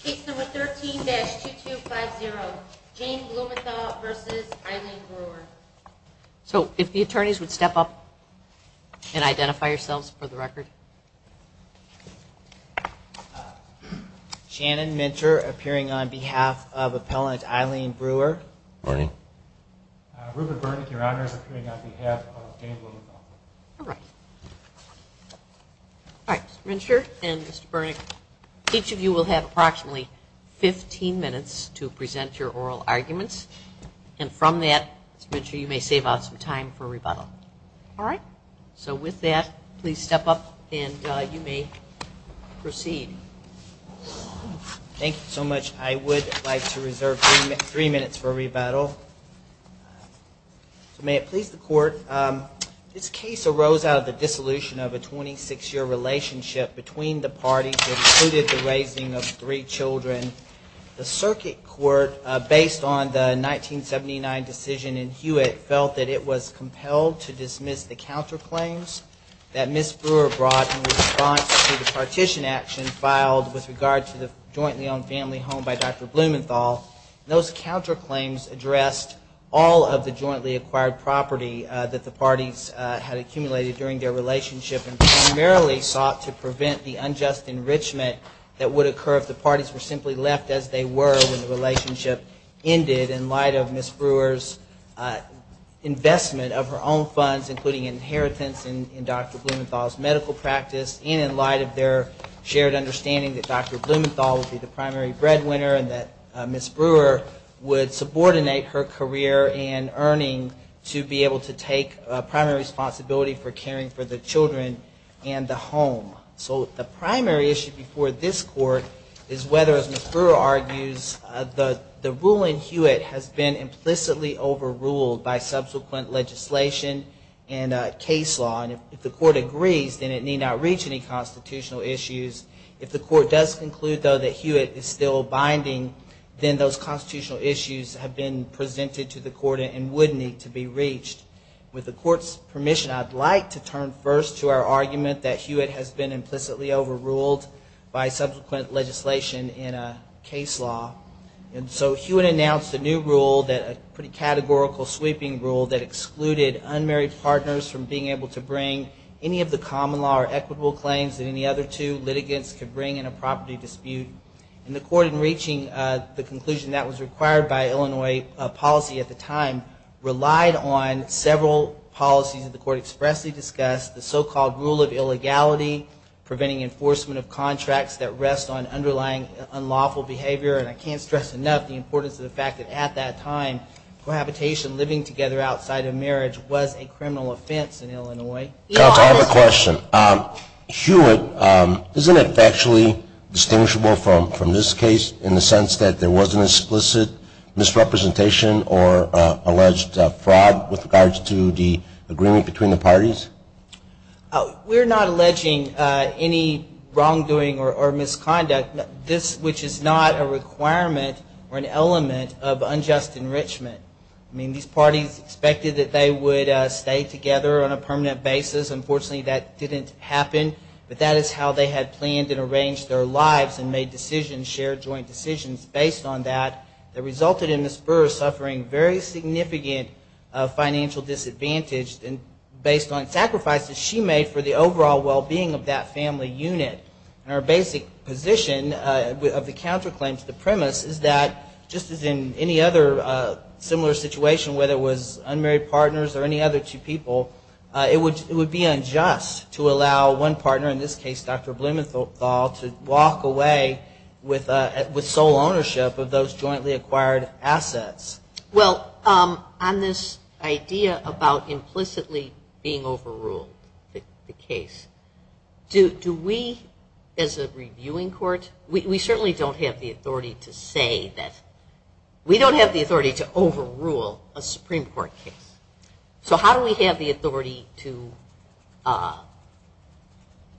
Case number 13-2250, Jane Blumenthal v. Eileen Brewer So if the attorneys would step up and identify yourselves for the record Shannon Mincher appearing on behalf of appellant Eileen Brewer Rupert Burnick, your honor, is appearing on behalf of Jane Blumenthal Alright, Mr. Mincher and Mr. Burnick, each of you will have approximately 15 minutes to present your oral arguments And from that, Mr. Mincher, you may save out some time for rebuttal Alright, so with that, please step up and you may proceed Thank you so much, I would like to reserve three minutes for rebuttal May it please the court, this case arose out of the dissolution of a 26 year relationship between the parties that included the raising of three children The circuit court, based on the 1979 decision in Hewitt, felt that it was compelled to dismiss the counterclaims that Ms. Brewer brought in response to the partition action filed with regard to the jointly owned family home by Dr. Blumenthal Those counterclaims addressed all of the jointly acquired property that the parties had accumulated during their relationship And primarily sought to prevent the unjust enrichment that would occur if the parties were simply left as they were when the relationship ended In light of Ms. Brewer's investment of her own funds, including inheritance in Dr. Blumenthal's medical practice And in light of their shared understanding that Dr. Blumenthal would be the primary breadwinner and that Ms. Brewer would subordinate her career and earning to be able to take primary responsibility for caring for the children and the home So the primary issue before this court is whether, as Ms. Brewer argues, the rule in Hewitt has been implicitly overruled by subsequent legislation and case law And if the court agrees, then it need not reach any constitutional issues If the court does conclude, though, that Hewitt is still binding, then those constitutional issues have been presented to the court and would need to be reached With the court's permission, I'd like to turn first to our argument that Hewitt has been implicitly overruled by subsequent legislation in case law And so Hewitt announced a new rule, a pretty categorical sweeping rule that excluded unmarried partners from being able to bring any of the common law or equitable claims that any other two litigants could bring in a property dispute And the court, in reaching the conclusion that was required by Illinois policy at the time, relied on several policies that the court expressly discussed The so-called rule of illegality, preventing enforcement of contracts that rest on underlying unlawful behavior And I can't stress enough the importance of the fact that at that time, cohabitation, living together outside of marriage, was a criminal offense in Illinois Counsel, I have a question. Hewitt, isn't it factually distinguishable from this case in the sense that there wasn't explicit misrepresentation or alleged fraud with regards to the agreement between the parties? We're not alleging any wrongdoing or misconduct, which is not a requirement or an element of unjust enrichment I mean, these parties expected that they would stay together on a permanent basis. Unfortunately, that didn't happen But that is how they had planned and arranged their lives and made decisions, shared joint decisions, based on that That resulted in Ms. Burr suffering very significant financial disadvantage based on sacrifices she made for the overall well-being of that family unit And our basic position of the counterclaim to the premise is that, just as in any other similar situation, whether it was unmarried partners or any other two people It would be unjust to allow one partner, in this case Dr. Blumenthal, to walk away with sole ownership of those jointly acquired assets Well, on this idea about implicitly being overruled, the case, do we, as a reviewing court, we certainly don't have the authority to say that We don't have the authority to overrule a Supreme Court case. So how do we have the authority to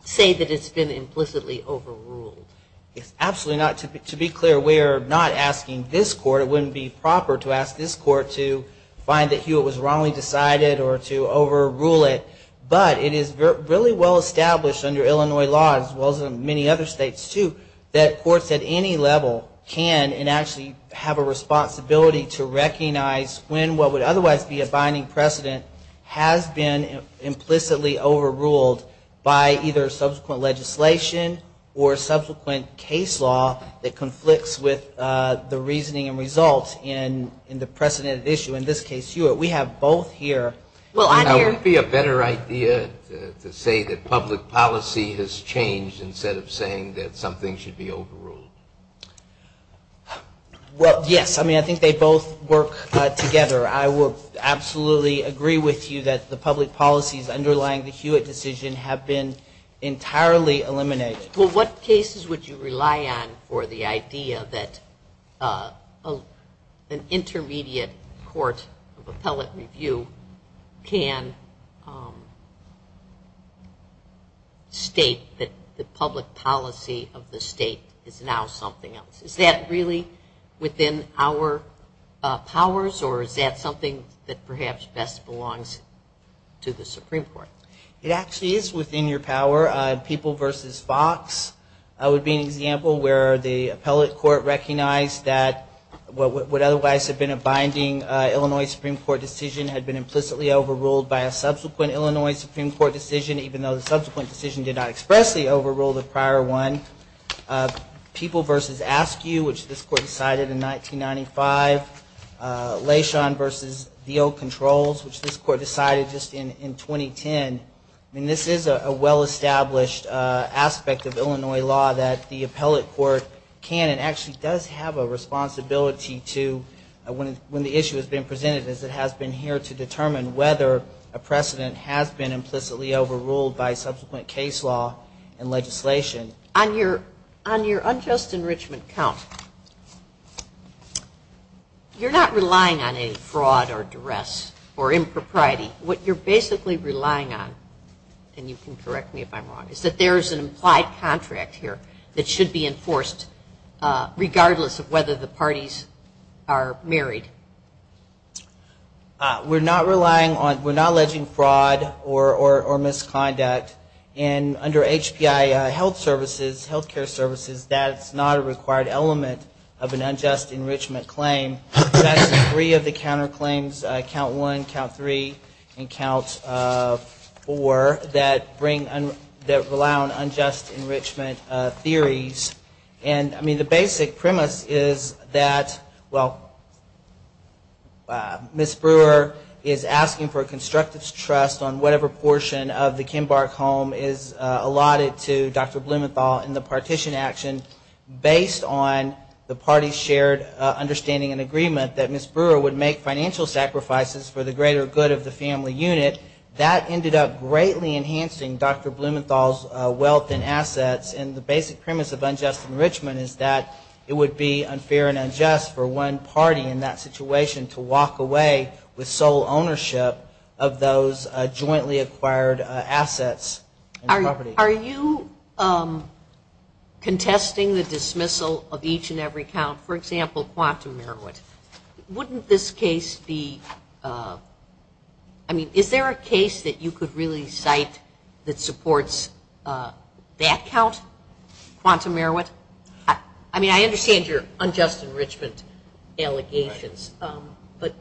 say that it's been implicitly overruled? Absolutely not. To be clear, we are not asking this court, it wouldn't be proper to ask this court to find that Hewitt was wrongly decided or to overrule it But it is really well established under Illinois law, as well as in many other states too, that courts at any level can and actually have a responsibility To recognize when what would otherwise be a binding precedent has been implicitly overruled by either subsequent legislation or subsequent case law That conflicts with the reasoning and results in the precedent issue. In this case, Hewitt. We have both here Now, wouldn't it be a better idea to say that public policy has changed instead of saying that something should be overruled? Well, yes. I mean, I think they both work together. I would absolutely agree with you that the public policies underlying the Hewitt decision have been entirely eliminated Well, what cases would you rely on for the idea that an intermediate court of appellate review can state that the public policy of the state is now something else? Is that really within our powers or is that something that perhaps best belongs to the Supreme Court? It actually is within your power. People v. Fox would be an example where the appellate court recognized that what would otherwise have been a binding Illinois Supreme Court decision Had been implicitly overruled by a subsequent Illinois Supreme Court decision, even though the subsequent decision did not expressly overrule the prior one People v. Askew, which this court decided in 1995. Leishon v. The Oat Controls, which this court decided just in 2010. I mean, this is a well-established aspect of Illinois law that the appellate court can and actually does have a responsibility to When the issue has been presented, it has been here to determine whether a precedent has been implicitly overruled by subsequent case law and legislation On your unjust enrichment count, you're not relying on any fraud or duress or impropriety. What you're basically relying on, and you can correct me if I'm wrong, is that there is an implied contract here That should be enforced, regardless of whether the parties are married. We're not relying on, we're not alleging fraud or misconduct. And under HPI health services, health care services, that's not a required element of an unjust enrichment claim. That's three of the counterclaims, count one, count three, and count four, that bring, that rely on unjust enrichment theories. And I mean, the basic premise is that, well, Ms. Brewer is asking for a constructive trust on whatever portion of the Kimbark home is allotted to Dr. Blumenthal in the partition action Based on the parties' shared understanding and agreement that Ms. Brewer would make financial sacrifices for the greater good of the family unit. That ended up greatly enhancing Dr. Blumenthal's wealth and assets. And the basic premise of unjust enrichment is that it would be unfair and unjust for one party in that situation to walk away with sole ownership of those jointly acquired assets. Are you contesting the dismissal of each and every count, for example, Quantum Merowit? Wouldn't this case be, I mean, is there a case that you could really cite that supports that count, Quantum Merowit? I mean, I understand your unjust enrichment allegations, but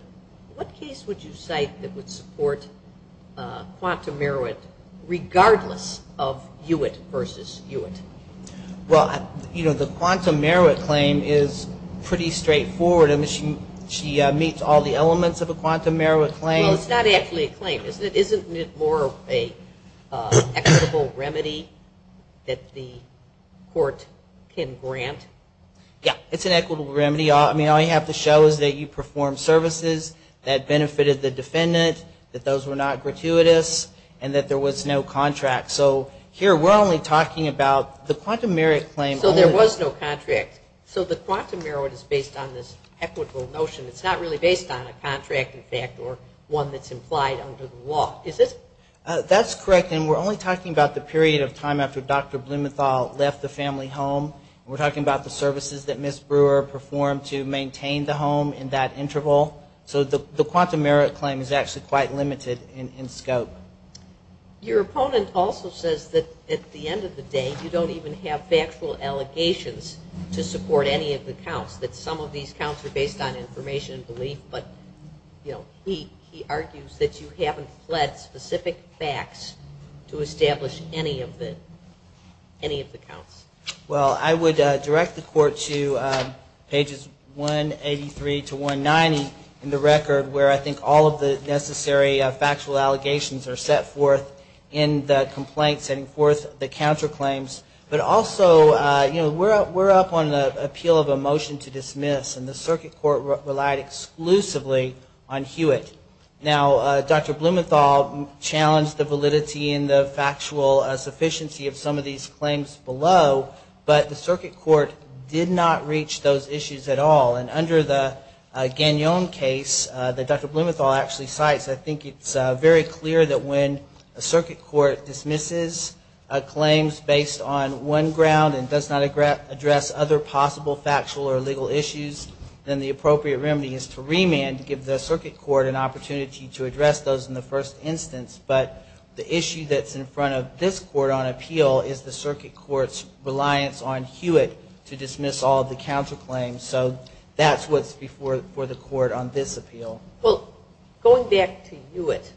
what case would you cite that would support Quantum Merowit, regardless of Hewitt versus Hewitt? Well, you know, the Quantum Merowit claim is pretty straightforward. I mean, she meets all the elements of a Quantum Merowit claim. Well, it's not actually a claim, isn't it? Isn't it more an equitable remedy that the court can grant? Yeah, it's an equitable remedy. I mean, all you have to show is that you performed services that benefited the defendant, that those were not gratuitous, and that there was no contract. So here we're only talking about the Quantum Merowit claim. So there was no contract. So the Quantum Merowit is based on this equitable notion. It's not really based on a contract, in fact, or one that's implied under the law, is it? That's correct, and we're only talking about the period of time after Dr. Blumenthal left the family home. We're talking about the services that Ms. Brewer performed to maintain the home in that interval. So the Quantum Merowit claim is actually quite limited in scope. Your opponent also says that at the end of the day, you don't even have factual allegations to support any of the counts, that some of these counts are based on information and belief. But, you know, he argues that you haven't fled specific facts to establish any of the counts. Well, I would direct the court to pages 183 to 190 in the record, where I think all of the necessary factual allegations are set forth in the complaint, setting forth the counterclaims. But also, you know, we're up on the appeal of a motion to dismiss, and the circuit court relied exclusively on Hewitt. Now, Dr. Blumenthal challenged the validity and the factual sufficiency of some of these claims below, but the circuit court did not reach those issues at all. And under the Gagnon case that Dr. Blumenthal actually cites, I think it's very clear that when a circuit court dismisses claims based on one ground and does not address other possible factual or legal issues, then the appropriate remedy is to remand to give the circuit court an opportunity to address those in the first instance. But the issue that's in front of this court on appeal is the circuit court's reliance on Hewitt to dismiss all of the counterclaims. So that's what's before the court on this appeal. Well, going back to Hewitt,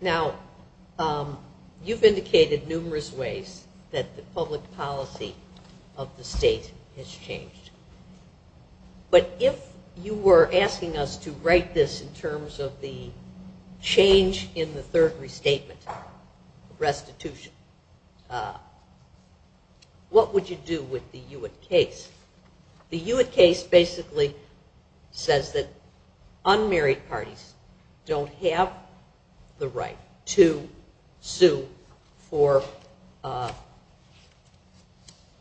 now, you've indicated numerous ways that the public policy of the state has changed. But if you were asking us to write this in terms of the change in the third restatement, restitution, what would you do with the Hewitt case? The Hewitt case basically says that unmarried parties don't have the right to sue for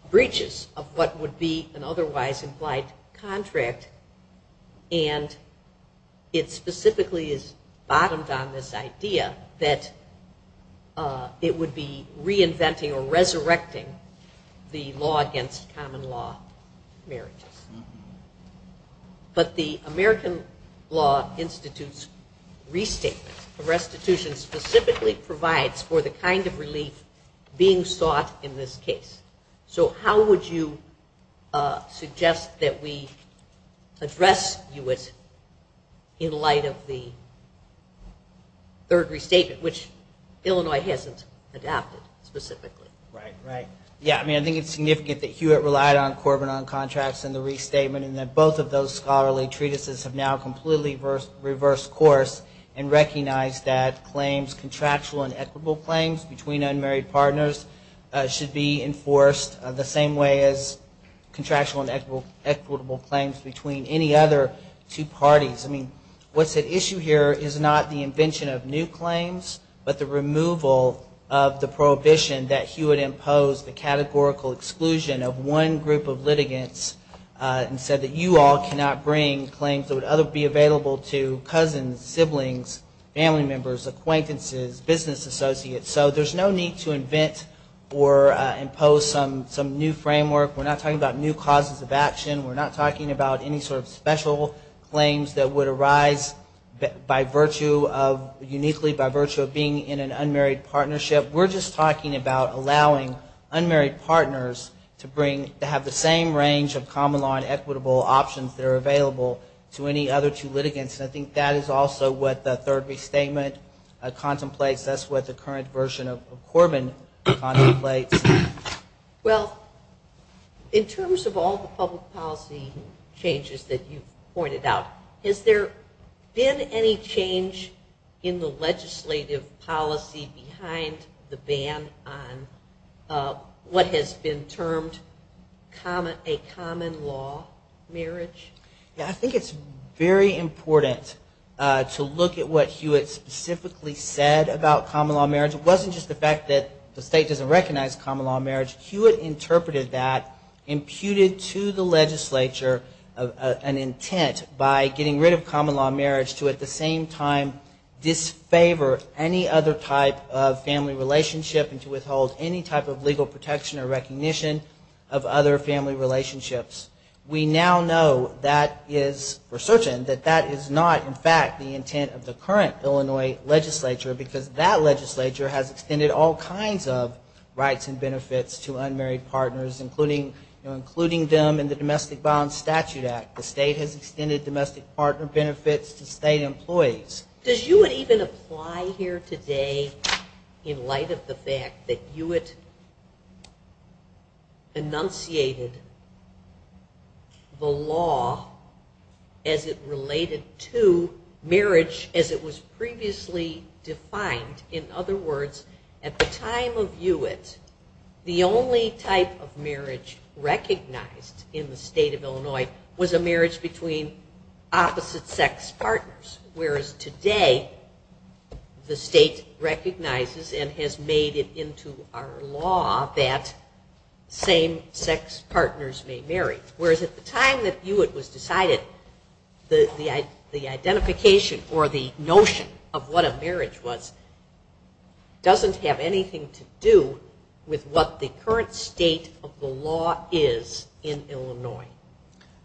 breaches of what would be an otherwise implied contract. And it specifically is bottomed on this idea that it would be reinventing or resurrecting the law against common law marriages. But the American Law Institute's restatement of restitution specifically provides for the kind of relief being sought in this case. So how would you suggest that we address Hewitt in light of the third restatement, which Illinois hasn't adapted specifically? Right, right. Yeah, I mean, I think it's significant that Hewitt relied on Corbin on contracts in the restatement, and that both of those scholarly treatises have now completely reversed course and recognized that claims, contractual and equitable claims between unmarried partners should be enforced the same way as contractual and equitable claims between any other two parties. I mean, what's at issue here is not the invention of new claims, but the removal of the prohibition that Hewitt imposed the categorical exclusion of one group of litigants and said that you all cannot bring claims that would be available to cousins, siblings, family members, acquaintances, business associates. So there's no need to invent or impose some new framework. We're not talking about new causes of action. We're not talking about any sort of special claims that would arise uniquely by virtue of being in an unmarried partnership. We're just talking about allowing unmarried partners to have the same range of common law and equitable options that are available to any other two litigants. And I think that is also what the third restatement contemplates. That's what the current version of Corbin contemplates. Well, in terms of all the public policy changes that you've pointed out, has there been any change in the legislative policy behind the ban on what has been termed a common law marriage? I think it's very important to look at what Hewitt specifically said about common law marriage. It wasn't just the fact that the state doesn't recognize common law marriage. Hewitt interpreted that, imputed to the legislature an intent by getting rid of common law marriage to at the same time disfavor any other type of family relationship and to withhold any type of legal protection or recognition of other family relationships. We now know that is, we're certain that that is not in fact the intent of the current Illinois legislature, because that legislature has extended all kinds of rights and benefits to unmarried partners, including them in the Domestic Violence Statute Act. The state has extended domestic partner benefits to state employees. Does Hewitt even apply here today in light of the fact that Hewitt enunciated the law as it related to marriage, as it was previously defined? In other words, at the time of Hewitt, the only type of marriage recognized in the state of Illinois was a marriage between opposite-sex partners, whereas today the state recognizes and has made it into our law that same-sex partners may marry. Whereas at the time that Hewitt was decided, the identification or the notion of what a marriage was, doesn't have anything to do with what the current state of the law is in Illinois.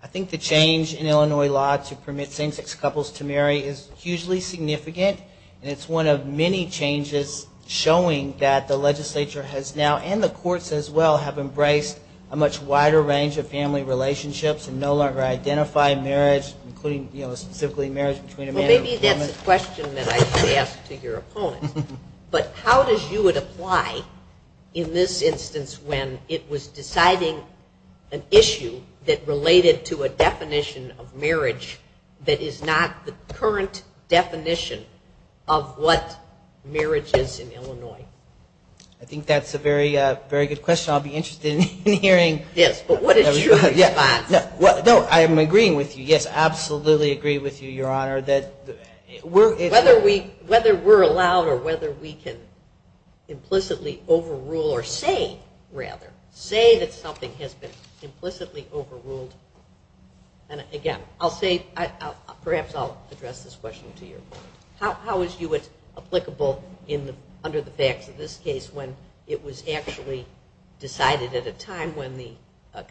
I think the change in Illinois law to permit same-sex couples to marry is hugely significant, and it's one of many changes showing that the legislature has now, and the courts as well, have embraced a much wider range of family relationships and no longer identify marriage, specifically marriage between a man and a woman. Well, maybe that's a question that I should ask to your opponent. But how does Hewitt apply in this instance when it was deciding an issue that related to a definition of marriage that is not the current definition of what marriage is in Illinois? I think that's a very good question. I'll be interested in hearing... Yes, but what is your response? No, I am agreeing with you. Yes, absolutely agree with you, Your Honor. Whether we're allowed or whether we can implicitly overrule or say, rather, say that something has been implicitly overruled, and again, I'll say, perhaps I'll address this question to you. How is Hewitt applicable under the facts of this case when it was actually decided at a time when the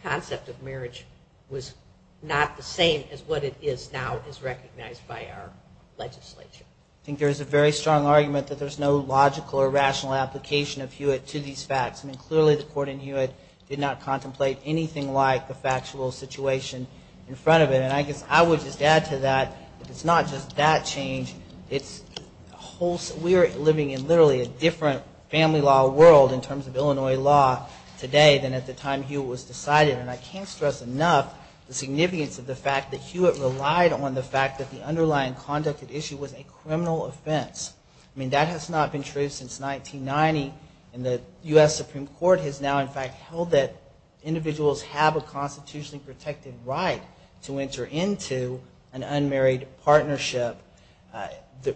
concept of marriage was not the same as what it is now as recognized by our legislature? I think there's a very strong argument that there's no logical or rational application of Hewitt to these facts. I mean, clearly the court in Hewitt did not contemplate anything like the factual situation in front of it. And I guess I would just add to that, it's not just that change. We're living in literally a different family law world in terms of Illinois law today than at the time Hewitt was decided. And I can't stress enough the significance of the fact that Hewitt relied on the fact that the underlying conduct of the issue was a criminal offense. I mean, that has not been true since 1990. And the U.S. Supreme Court has now, in fact, held that individuals have a constitutionally protected right to enter into an unmarried partnership.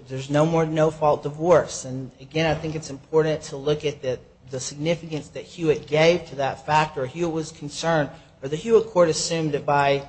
There's no more no-fault divorce. And again, I think it's important to look at the significance that Hewitt gave to that fact or Hewitt was concerned. The Hewitt court assumed that by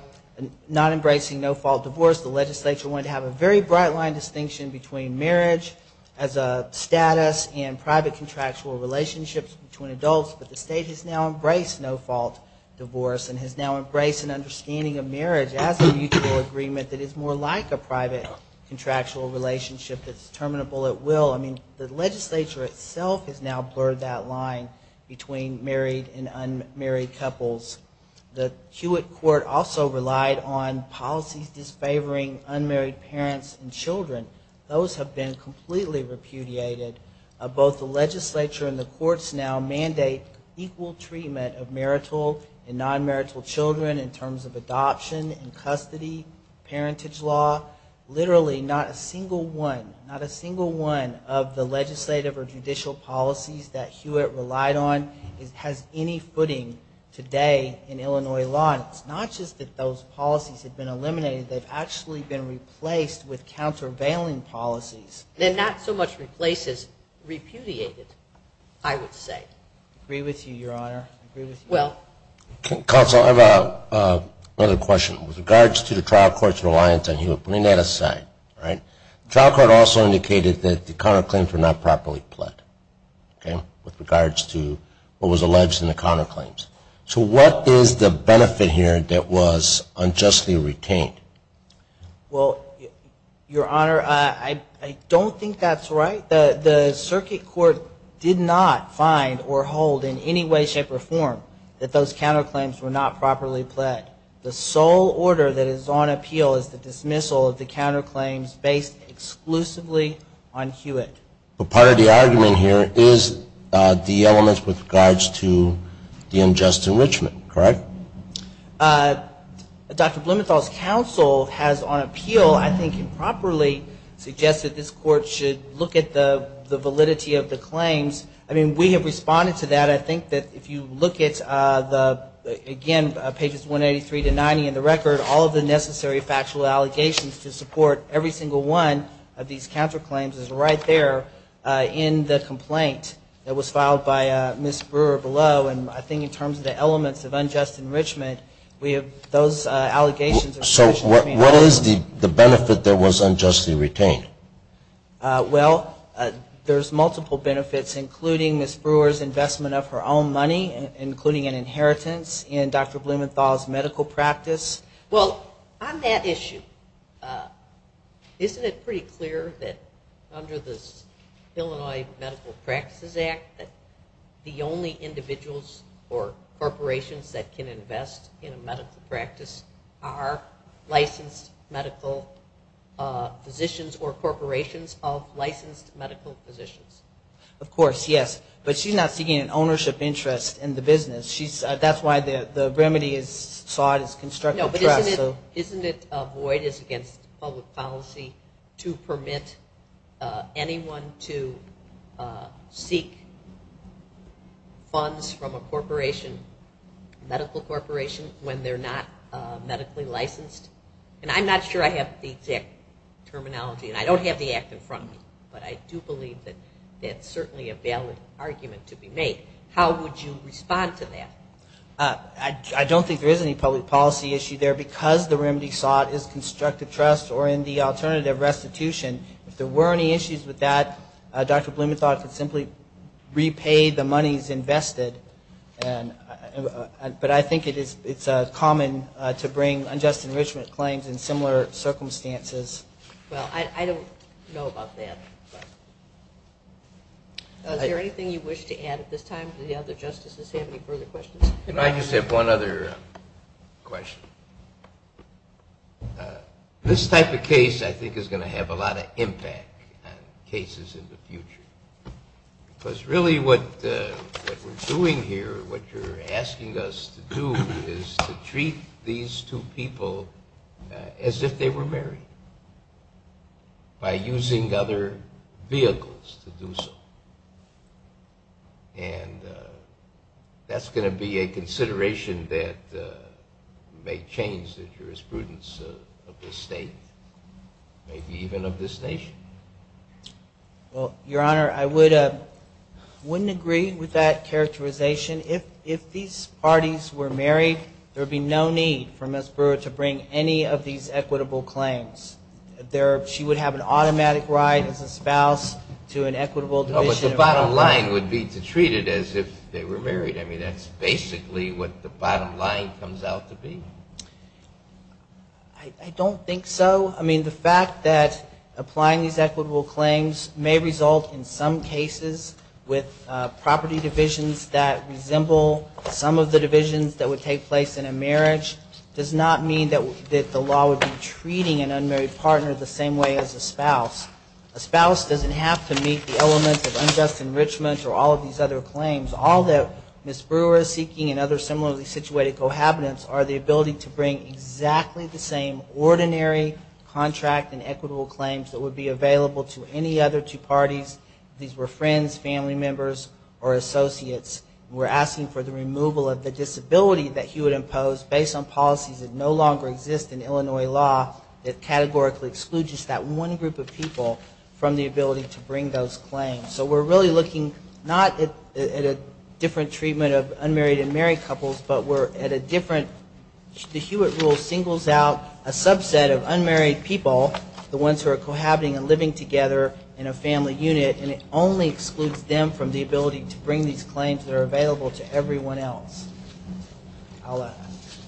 not embracing no-fault divorce, the legislature wanted to have a very bright line distinction between marriage as a status and private contractual relationships between adults. But the state has now embraced no-fault divorce and has now embraced an understanding of marriage as a mutual agreement that is more like a private contractual relationship that's terminable at will. I mean, the legislature itself has now blurred that line between married and unmarried couples. The Hewitt court also relied on policies disfavoring unmarried parents and children. Those have been completely repudiated. Both the legislature and the courts now mandate equal treatment of marital and non-marital children in terms of adoption and custody, parentage law. Literally not a single one, not a single one of the legislative or judicial policies that Hewitt relied on has any footing today in Illinois law. And it's not just that those policies have been eliminated. They've actually been replaced with countervailing policies. They're not so much replaced as repudiated, I would say. I agree with you, Your Honor. Counsel, I have another question. With regards to the trial court's reliance on Hewitt, putting that aside, trial court also indicated that the counterclaims were not properly pled with regards to what was alleged in the counterclaims. So what is the benefit here that was unjustly retained? Well, Your Honor, I don't think that's right. The circuit court did not find or hold in any way, shape, or form the counterclaims were not properly pled. The sole order that is on appeal is the dismissal of the counterclaims based exclusively on Hewitt. But part of the argument here is the elements with regards to the unjust enrichment, correct? Dr. Blumenthal's counsel has on appeal, I think, improperly suggested this court should look at the validity of the claims. I mean, we have responded to that. I think that if you look at the, again, pages 183 to 90 in the record, all of the necessary factual allegations to support every single one of these counterclaims is right there in the complaint that was filed by Ms. Brewer below. And I think in terms of the elements of unjust enrichment, we have those allegations. So what is the benefit that was unjustly retained? Well, there's multiple benefits, including Ms. Brewer's investment of her own money, including an inheritance in Dr. Blumenthal's medical practice. Well, on that issue, isn't it pretty clear that under this Illinois Medical Practices Act that the only individuals or corporations that can invest in a medical practice are licensed medical physicians or clinicians? Of course, yes. But she's not seeking an ownership interest in the business. That's why the remedy is sought is constructive trust. No, but isn't it avoidance against public policy to permit anyone to seek funds from a corporation, medical corporation, when they're not having the act in front of them? But I do believe that that's certainly a valid argument to be made. How would you respond to that? I don't think there is any public policy issue there. Because the remedy sought is constructive trust or in the alternative restitution, if there were any issues with that, Dr. Blumenthal could simply repay the monies invested. But I think it's common to bring up unjust enrichment claims in similar circumstances. Well, I don't know about that. Is there anything you wish to add at this time? Do the other justices have any further questions? I just have one other question. This type of case I think is going to have a lot of impact on cases in the future. Because really what we're doing here, what you're asking us to do is to treat these two people as if they were married by using other vehicles to do so. And that's going to be a consideration that may change the jurisprudence of the state, maybe even of this nation. Well, Your Honor, I wouldn't agree with that characterization. If these parties were married, there would be no need for Ms. Brewer to bring any of these equitable claims. She would have an automatic right as a spouse to an equitable division of property. But the bottom line would be to treat it as if they were married. I mean, that's basically what the bottom line comes out to be? I don't think so. I mean, the fact that applying these equitable claims may result in some cases with property divisions that resemble some of the divisions that would take place in a marriage does not mean that the law would be treating an unmarried partner the same way as a spouse. A spouse doesn't have to meet the elements of unjust enrichment or all of these other claims. All that Ms. Brewer is seeking and other similarly situated cohabitants are the ability to bring exactly the same ordinary contract and equitable claims that would be available to any other two parties, if these were friends, family members, or associates. We're asking for the removal of the disability that he would impose based on policies that no longer exist in Illinois law that categorically exclude just that one group of people from the ability to bring those claims. So we're really looking not at a different treatment of unmarried and married couples, but we're at a different, the Hewitt rule singles out a subset of unmarried people, the ones who are cohabiting and living together in a family unit, and it only excludes them from the ability to bring these claims that are available to everyone else. I'll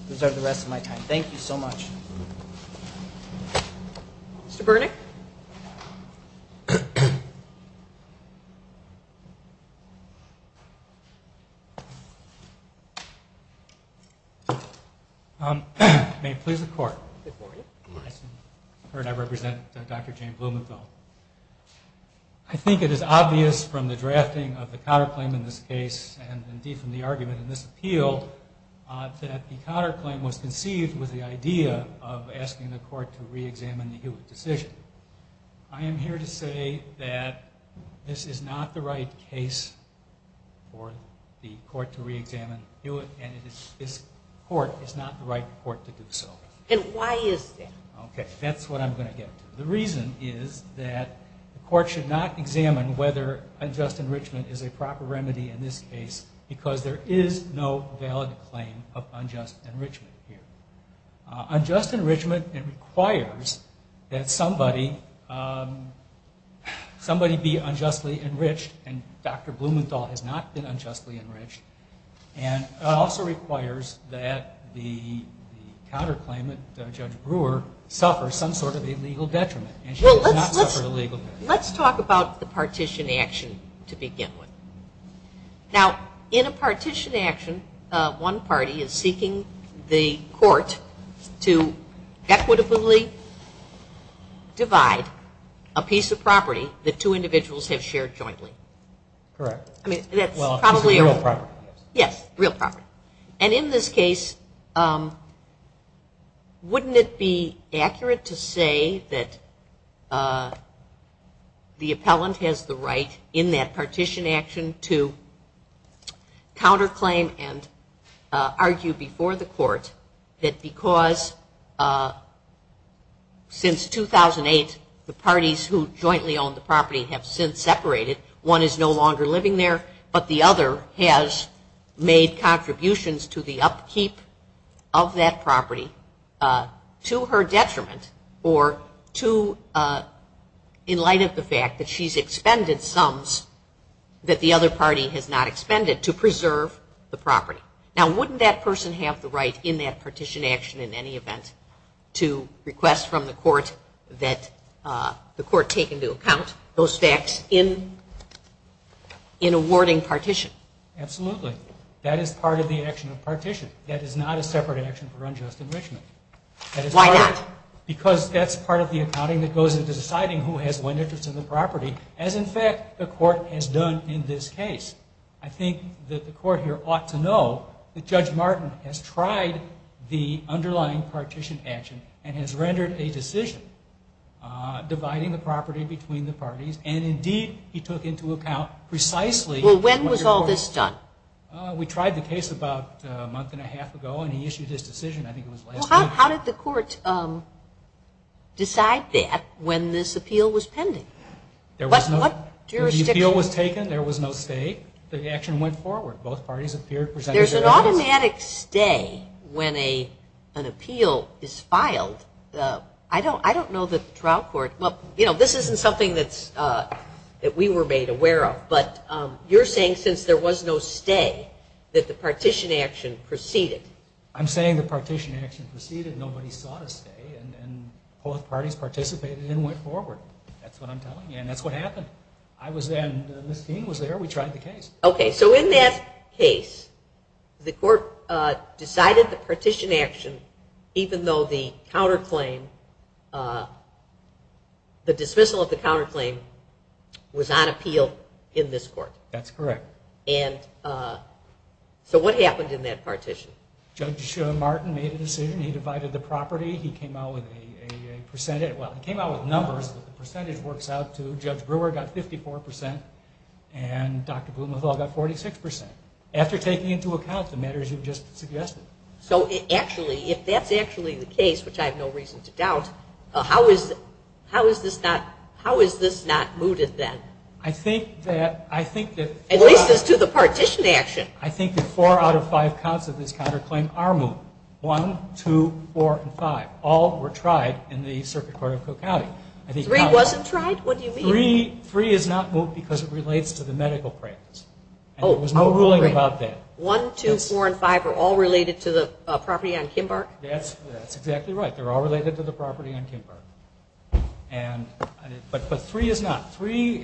reserve the rest of my time. Thank you so much. Mr. Burnick. May it please the court. Good morning. I represent Dr. Jane Blumenthal. I think it is obvious from the drafting of the counterclaim in this case and indeed from the argument in this appeal that the counterclaim was conceived with the idea of asking the court to reexamine the Hewitt decision. I am here to say that this is not the right case for the court to reexamine Hewitt, and this court is not the right court to do so. And why is that? Okay, that's what I'm going to get to. The reason is that the court should not examine whether unjust enrichment is a proper remedy in this case, because there is no valid claim of unjust enrichment here. Unjust enrichment requires that somebody be unjustly enriched, and Dr. Blumenthal has not been unjustly enriched, and also requires that the counterclaimant, Judge Brewer, suffer some sort of punishment. Now, in a partition action, one party is seeking the court to equitably divide a piece of property that two individuals have shared jointly. Correct. I mean, that's probably a real property. Yes, real property. And in this case, wouldn't it be accurate to say that the court is seeking to counterclaim and argue before the court that because since 2008, the parties who jointly owned the property have since separated, one is no longer living there, but the other has made contributions to the upkeep of that property to her detriment, or in light of the expended sums that the other party has not expended to preserve the property. Now, wouldn't that person have the right in that partition action in any event to request from the court that the court take into account those facts in awarding partition? Absolutely. That is part of the action of partition. That is not a separate action for unjust enrichment. Why not? Because that's part of the accounting that goes into deciding who has what. That's in fact what the court has done in this case. I think that the court here ought to know that Judge Martin has tried the underlying partition action and has rendered a decision dividing the property between the parties, and indeed, he took into account precisely what your court... Well, when was all this done? We tried the case about a month and a half ago, and he issued his decision, I think it was last week, and he issued his decision, and he issued his decision to decide that when this appeal was pending. When the appeal was taken, there was no stay, the action went forward. There's an automatic stay when an appeal is filed. I don't know that the trial court... Well, you know, this isn't something that we were made aware of, but you're saying since there was no stay that the partition action proceeded. I'm saying the partition action proceeded, and both parties participated and went forward. That's what I'm telling you, and that's what happened. I was there, and Ms. Keene was there. We tried the case. Okay, so in that case, the court decided the partition action even though the dismissal of the counterclaim was on appeal in this court. That's correct. And so what happened in that partition? Judge Martin made a decision. He came out with a percentage. Well, he came out with numbers, but the percentage works out to Judge Brewer got 54%, and Dr. Blumenthal got 46%. After taking into account the matters you've just suggested. So actually, if that's actually the case, which I have no reason to doubt, how is this not mooted then? I think that... At least as to the partition action. I think that four out of five counts of this counterclaim are related to the property on Kimbark. One, two, four, and five. All were tried in the Circuit Court of Cook County. Three wasn't tried? What do you mean? Three is not moved because it relates to the medical claims, and there was no ruling about that. One, two, four, and five are all related to the property on Kimbark? That's exactly right. They're all related to the property on Kimbark. But three is not. Three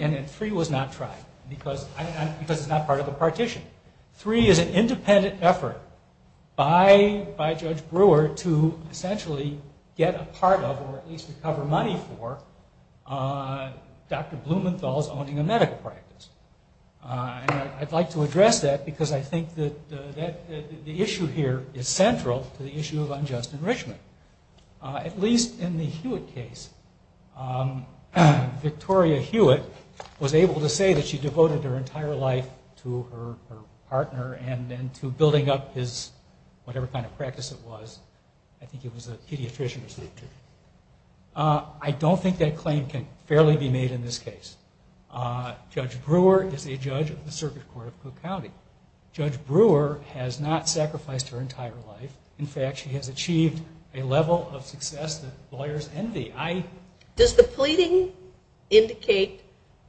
was not part of the partition. Three is an independent effort by Judge Brewer to essentially get a part of, or at least recover money for, Dr. Blumenthal's owning a medical practice. And I'd like to address that because I think that the issue here is central to the issue of unjust enrichment. At least in the Hewitt case, Victoria Hewitt was able to say that she devoted her entire life to the practice, to her partner, and then to building up his whatever kind of practice it was. I think it was a pediatrician. I don't think that claim can fairly be made in this case. Judge Brewer is a judge of the Circuit Court of Cook County. Judge Brewer has not sacrificed her entire life. In fact, she has achieved a level of success that lawyers envy. Does the pleading indicate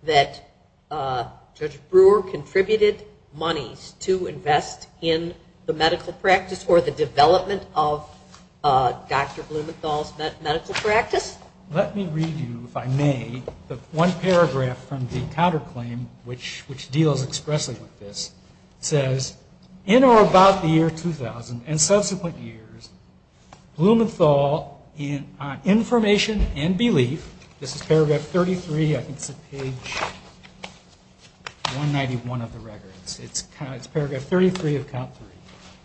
that Judge Brewer contributed to money to invest in the medical practice or the development of Dr. Blumenthal's medical practice? Let me read you, if I may, the one paragraph from the counterclaim which deals expressly with this. It says, in or about the year 2000 and subsequent years, Blumenthal in information and belief, this is paragraph 33, I think it's on page 191 of the record. It says,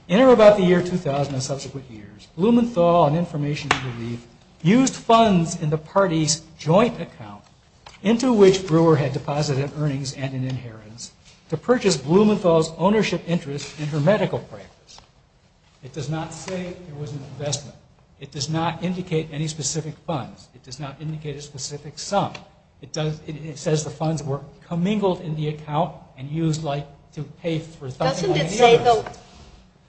in or about the year 2000 and subsequent years, Blumenthal in information and belief used funds in the party's joint account into which Brewer had deposited earnings and an inheritance to purchase Blumenthal's ownership interest in her medical practice. It does not say there was an investment. It does not indicate any specific funds. It does not indicate a specific sum. It says the funds were commingled in the interest. Doesn't it say, though,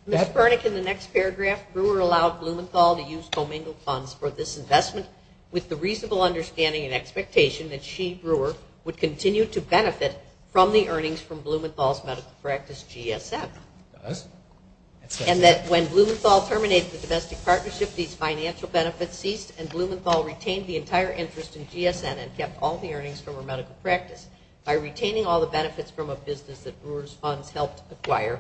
Ms. Burnick, in the next paragraph, Brewer allowed Blumenthal to use commingled funds for this investment with the reasonable understanding and expectation that she, Brewer, would continue to benefit from the earnings from Blumenthal's medical practice, GSN. Does. And that when Blumenthal terminated the domestic partnership, these financial benefits ceased and Blumenthal retained the entire interest in GSN and kept all the earnings from her medical practice by retaining all the funds helped acquire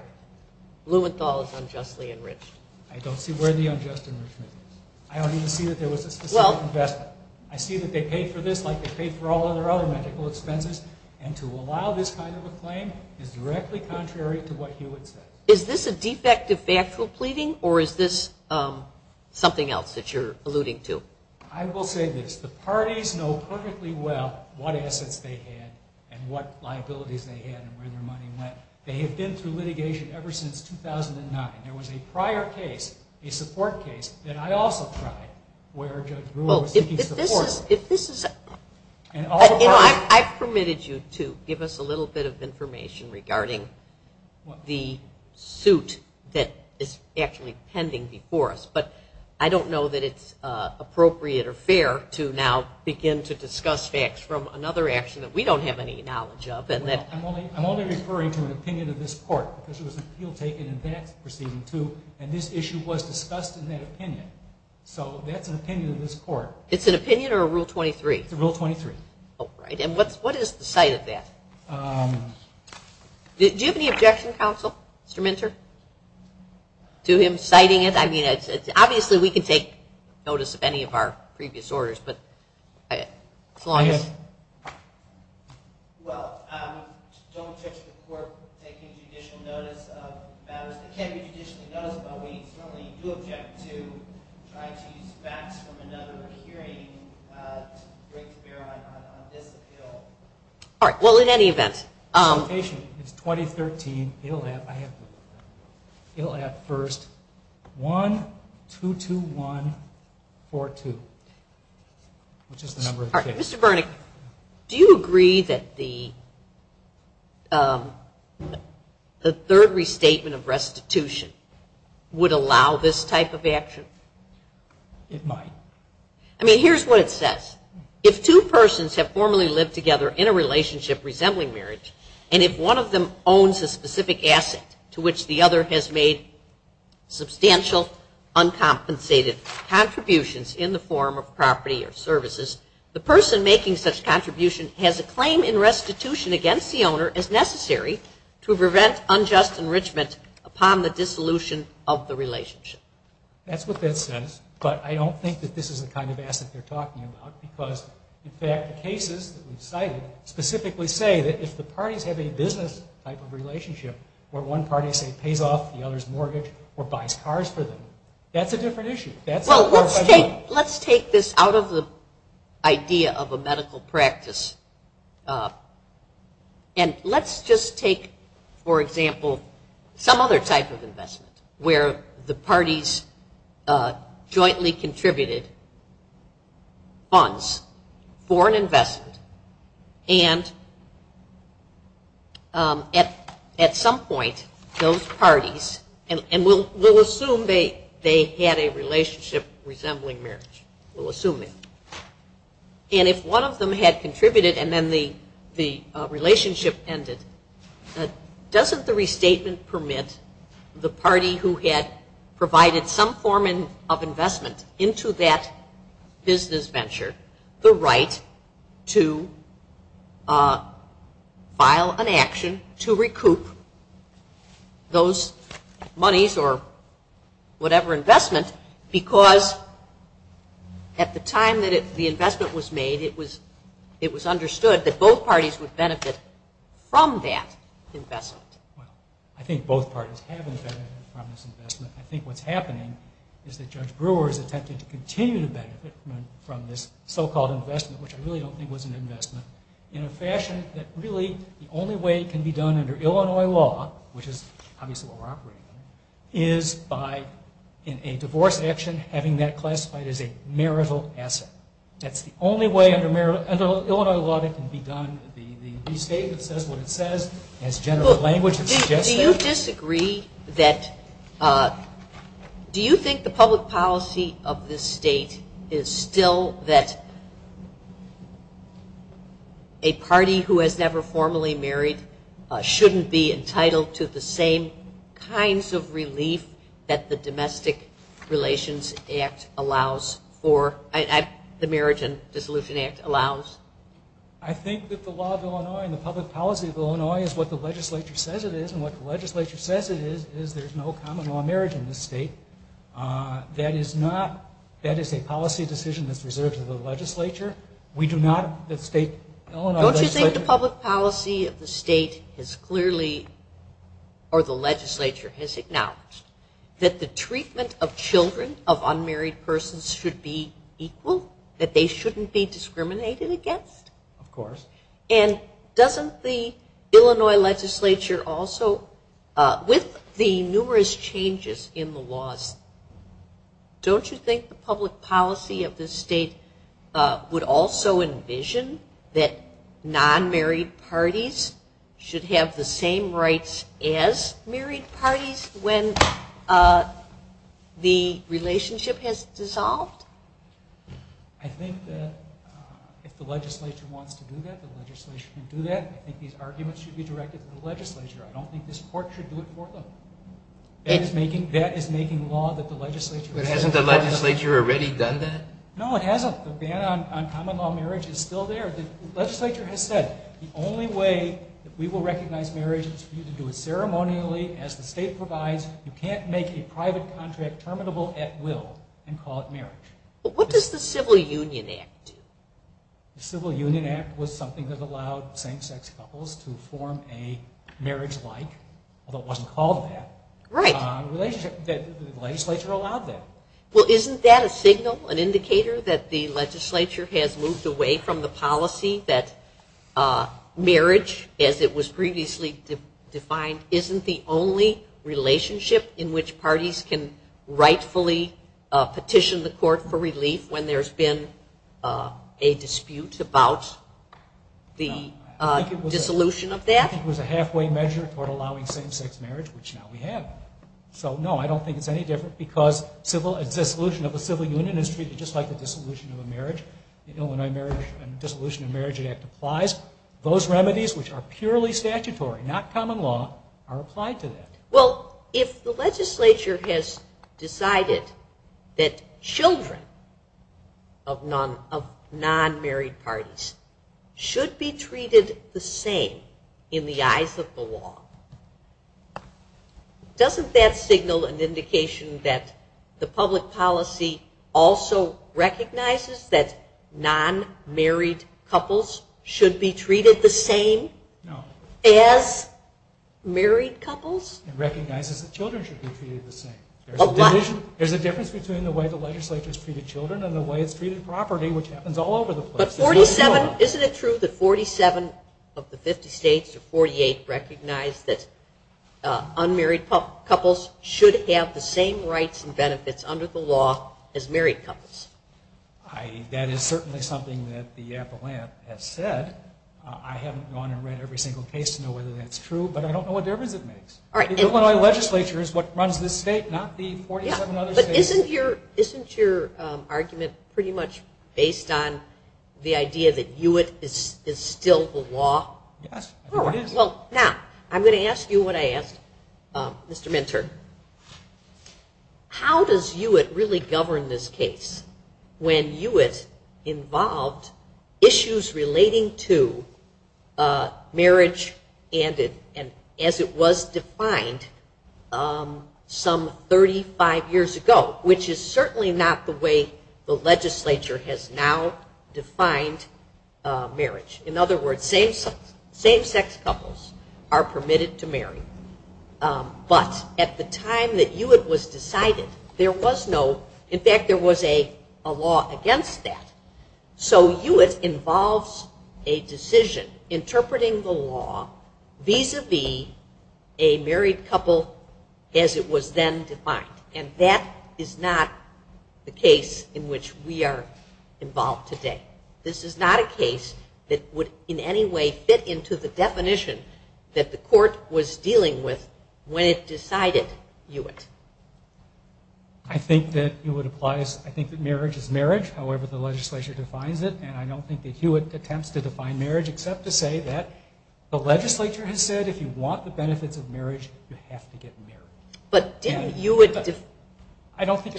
Blumenthal's unjustly enriched. I don't see where the unjust enrichment is. I don't even see that there was a specific investment. I see that they paid for this like they paid for all of their other medical expenses, and to allow this kind of a claim is directly contrary to what Hewitt said. Is this a defect of factual pleading or is this something else that you're alluding to? I will say this. The parties know perfectly well what assets they had and what liabilities they had and where their money went. They have been through litigation ever since 2009. There was a prior case, a support case, that I also tried where Judge Brewer was seeking support. I've permitted you to give us a little bit of information regarding the suit that is actually pending before us, but I don't know that it's appropriate or fair to now begin to discuss facts from another action that we don't have any knowledge of and that's why I'm here. I'm only referring to an opinion of this court because there was an appeal taken in that proceeding, too, and this issue was discussed in that opinion. So that's an opinion of this court. It's an opinion or a Rule 23? It's a Rule 23. Oh, right. And what is the site of that? Do you have any objection, Counsel? Mr. Minter? To him citing it? I mean, obviously we can take notice of any of our previous orders, but as long as... Well, don't judge the court taking judicial notice of matters that can't be judicially noticed, but we certainly do object to trying to use facts from another hearing to break the barrier on this appeal. All right. Well, in any event... It's 2013. It'll have, I have, it'll have first one, two, two, one, four, two, three, four, two, which is the number of the case. Mr. Bernick, do you agree that the third restatement of restitution would allow this type of action? It might. I mean, here's what it says. If two persons have formerly lived together in a relationship resembling marriage, and if one of them owns a specific asset to which the other has made substantial, uncompensated contributions in the relationship, then it would be in the form of property or services. The person making such contribution has a claim in restitution against the owner as necessary to prevent unjust enrichment upon the dissolution of the relationship. That's what that says, but I don't think that this is the kind of asset they're talking about because, in fact, the cases that we've cited specifically say that if the parties have a business type of relationship where one party, say, pays off the other's mortgage or buys cars for them, that's a different issue. Well, let's take this out of the idea of a medical practice, and let's just take, for example, some other type of investment where the parties jointly contributed funds for an investment, and at some point, those parties, and we'll assume they had a relationship. Resembling marriage, we'll assume it. And if one of them had contributed and then the relationship ended, doesn't the restatement permit the party who had provided some form of investment into that business venture the right to file an action to recoup those monies or whatever investment because at the time that the investment was made, it was understood that both parties would benefit from that investment. I think both parties have benefited from this investment. I think what's happening is that Judge Brewer has attempted to continue to benefit from this so-called investment, which I really don't think was an investment, in a fashion that really the only way it can be done under Illinois law, which is obviously what we're operating under, is by in a divorce action having that classified as a marital asset. That's the only way under Illinois law that can be done. The state that says what it says, has general language that suggests that. Do you disagree that, do you think the public policy of this state is still that a party who has never formally married should be entitled to the same kinds of relief that the Domestic Relations Act allows for, the Marriage and Dissolution Act allows? I think that the law of Illinois and the public policy of Illinois is what the legislature says it is, and what the legislature says it is, is there's no common law marriage in this state. That is not, that is a policy decision that's reserved to the legislature. We do not, the state, Illinois legislature. Don't you think the public policy of the state has clearly, or the legislature has acknowledged, that the treatment of children of unmarried persons should be equal, that they shouldn't be discriminated against? Of course. And doesn't the Illinois legislature also, with the numerous changes in the laws, don't you think the public policy of this state would also envision that non-married parties should have the same rights as married parties when the relationship has dissolved? I think that if the legislature wants to do that, the legislature can do that. I think these arguments should be directed to the legislature. I don't think this court should do it for them. That is making law that the legislature... But hasn't the legislature already done that? No, it hasn't. The ban on common law marriage is still there. The legislature has said the only way that we will recognize marriage is for you to do it ceremonially, as the state provides. You can't make a private contract terminable at will and call it marriage. But what does the Civil Union Act do? The Civil Union Act was something that allowed same-sex couples to form a marriage-like, although it wasn't called that, relationship. The legislature allowed that. Isn't that a signal, an indicator that the legislature has moved away from the policy that marriage, as it was previously defined, isn't the only relationship in which parties can rightfully petition the court for relief when there's been a dispute about the dissolution of that? I think it was a halfway measure toward allowing same-sex marriage, which now we have. So no, I don't think it's any different, because the dissolution of the Civil Union is treated just like the dissolution of a marriage. The Illinois Marriage and Dissolution of Marriage Act applies. Those remedies, which are purely statutory, not common law, are applied to that. Well, if the legislature has decided that children of non-married parties should be treated the same in the same way as married couples in the eyes of the law, doesn't that signal an indication that the public policy also recognizes that non-married couples should be treated the same as married couples? It recognizes that children should be treated the same. There's a difference between the way the legislature has treated children and the way it's treated property, which happens all over the place. But isn't it true that 47 of the 50 states, or 48, recognize that unmarried couples should have the same rights and benefits under the law as married couples? That is certainly something that the appellant has said. I haven't gone and read every single case to know whether that's true, but I don't know what difference it makes. The Illinois legislature is what runs this state, not the 47 other states. But isn't your argument pretty much based on the idea that UIT is still the law? Yes, I think it is. Now, I'm going to ask you what I asked Mr. Mentor. How does UIT really govern this case when UIT involved issues relating to marriage and as it was defined some 35 years ago, which is certainly not the way the legislature has now defined marriage? In other words, same sex couples are permitted to marry. But at the time that UIT was decided, there was no, in fact there was a law against that. So UIT involves a marriage law vis-a-vis a married couple as it was then defined. And that is not the case in which we are involved today. This is not a case that would in any way fit into the definition that the court was dealing with when it decided UIT. I think that marriage is marriage, however the legislature defines it. And I don't think that UIT attempts to define marriage except to say that the legislature has said if you want the benefits of marriage, you have to get married. But didn't UIT define it?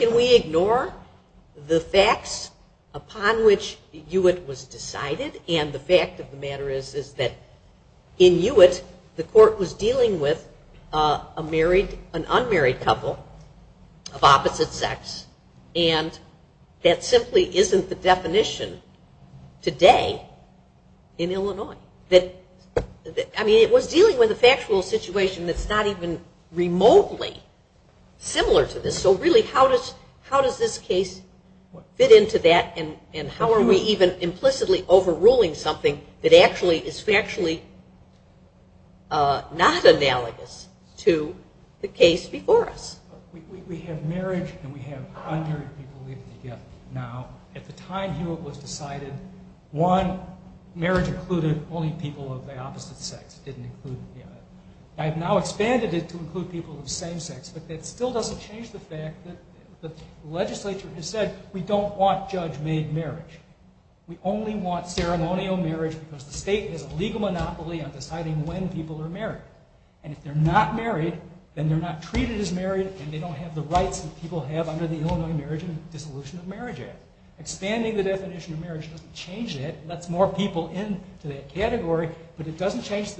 Can we ignore the facts upon which UIT was decided? And the fact of the matter is that in UIT, the court was dealing with an unmarried couple of opposite sex. And that simply isn't the definition today in Illinois. I mean it was dealing with a factual situation that's not even remotely similar to this. So really how does this case fit into that and how are we even implicitly overruling something that actually is factually not analogous to the case before us? We have marriage and we have unmarried people leaving together now. At the time UIT was decided, one, marriage included the only people of the opposite sex. It didn't include any of that. I have now expanded it to include people of the same sex, but that still doesn't change the fact that the legislature has said we don't want judge-made marriage. We only want ceremonial marriage because the state has a legal monopoly on deciding when people are married. And if they're not married, then they're not treated as married and they don't have the rights that people have under the Illinois Marriage and Dissolution of Marriage Act. Expanding the definition of marriage doesn't change it. It lets more people into that category, but it doesn't change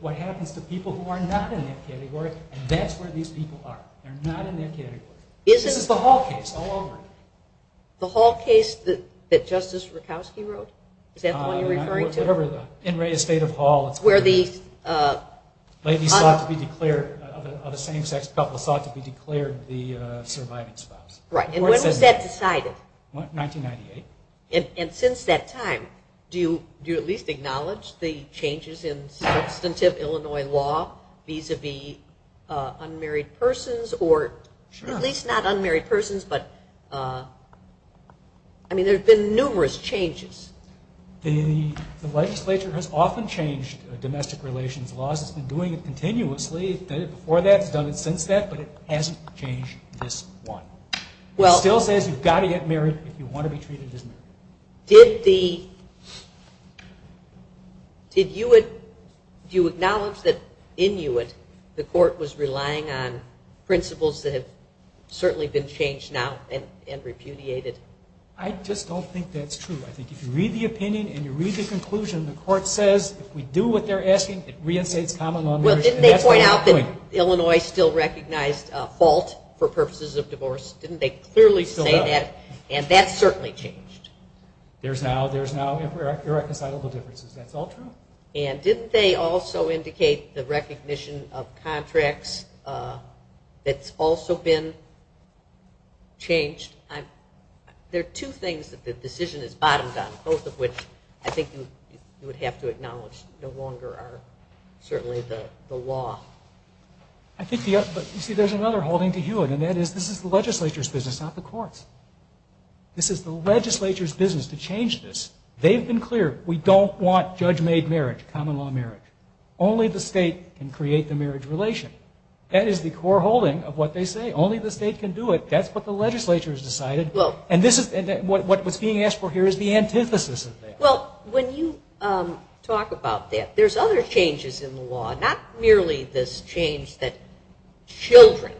what happens to people who are not in that category. And that's where these people are. They're not in that category. This is the Hall case all over. The Hall case that Justice Rutkowski wrote? Is that the one you're referring to? Whatever. In re-estate of Hall it's where the ladies sought to be declared of a same-sex couple sought to be declared the surviving spouse. Right. And when was that decided? 1998. And since that time, do you at least acknowledge the changes in substantive Illinois law vis-a-vis unmarried persons or at least not unmarried persons, but there have been numerous changes. The legislature has often changed domestic relations laws. It's been doing it continuously. It's done it before that. It's done it since that, but it hasn't changed this one. It still says you've got to get married if you want to be treated as married. Did you acknowledge that in Uint the court was relying on principles that have certainly been changed now and repudiated? I just don't think that's true. I think if you read the opinion and you read the conclusion, the court says if we do what they're asking, it re-estates common law. Well, didn't they point out that Illinois still has the same laws? And that's certainly changed. There's now irreconcilable differences. That's all true. And didn't they also indicate the recognition of contracts that's also been changed? There are two things that the decision is bottomed on, both of which I think you would have to acknowledge no longer are certainly the law. You see, there's another holding to Hewitt, and that is this is the legislature's business to change this. They've been clear. We don't want judge-made marriage, common law marriage. Only the state can create the marriage relation. That is the core holding of what they say. Only the state can do it. That's what the legislature has decided. And what's being asked for here is the antithesis of that. Well, when you talk about that, there's other changes in the law, not merely this change that children,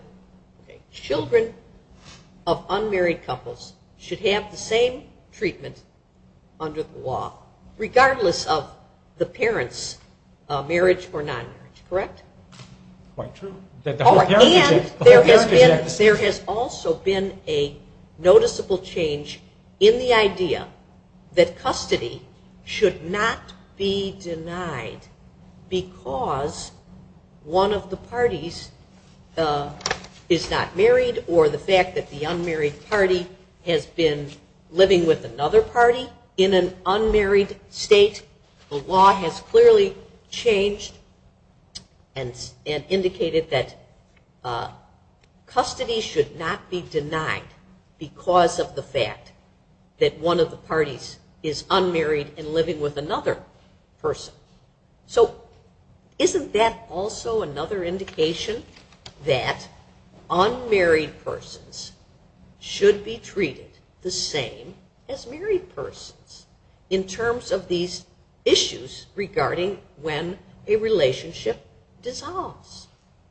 children of unmarried couples, children of unmarried couples, children of unmarried couples, should have the same treatment under the law, regardless of the parent's marriage or non-marriage, correct? Quite true. And there has been, there has also been a noticeable change in the idea that custody should not be denied because one of the parties is not married. One unmarried party has been living with another party in an unmarried state. The law has clearly changed and indicated that custody should not be denied because of the fact that one of the parties is unmarried and living with another person. So isn't that also another indication that unmarried persons should be treated the same as married persons in terms of these issues regarding when a relationship dissolves?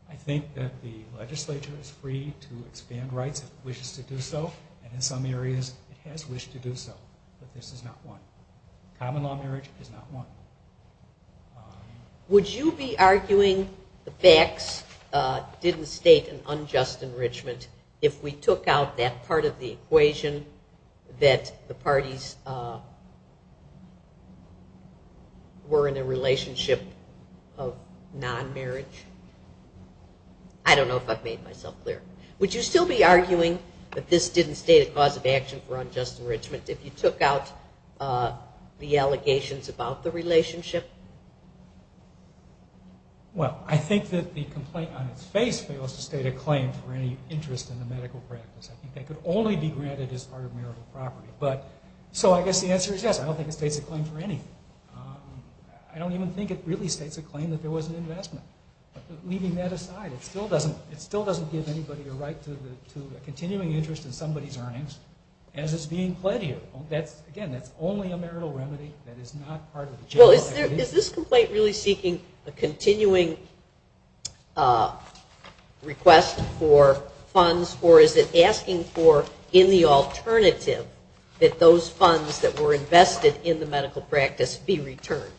I think that the legislature is free to expand rights if it wishes to do so, and in some areas it has wished to do so. But the facts didn't state an unjust enrichment if we took out that part of the equation that the parties were in a relationship of non-marriage. I don't know if I've made myself clear. Would you still be arguing that this didn't state a cause of action for unjust enrichment if you took out the allegations about the relationship? Well, I think that there is a cause of action for unjust enrichment. I don't think that the complaint on its face fails to state a claim for any interest in the medical practice. I think that could only be granted as part of marital property. So I guess the answer is yes. I don't think it states a claim for anything. I don't even think it really states a claim that there was an investment. But leaving that aside, it still doesn't give anybody a right to a continuing interest in somebody's earnings as is being pled here. Again, that's only a marital remedy that is not part of the general idea. Well, is this complaint really seeking a continuing request for funds or is it asking for in the alternative that those funds that were invested in the medical practice be returned?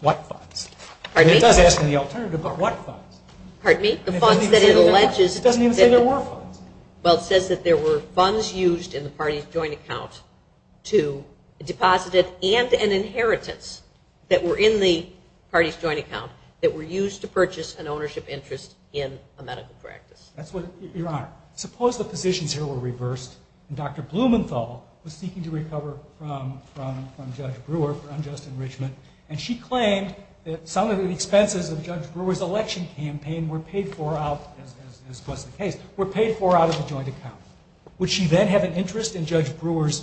What funds? It does ask for the alternative, but what funds? Pardon me? The funds that it alleges. It doesn't even say there were funds. Well, it says that there were funds used in the party's joint account to deposit it and an interest in the medical practice. That were in the party's joint account that were used to purchase an ownership interest in a medical practice. Your Honor, suppose the positions here were reversed and Dr. Blumenthal was seeking to recover from Judge Brewer for unjust enrichment and she claimed that some of the expenses of Judge Brewer's election campaign were paid for out of the joint account. Would she then have an interest in Judge Brewer's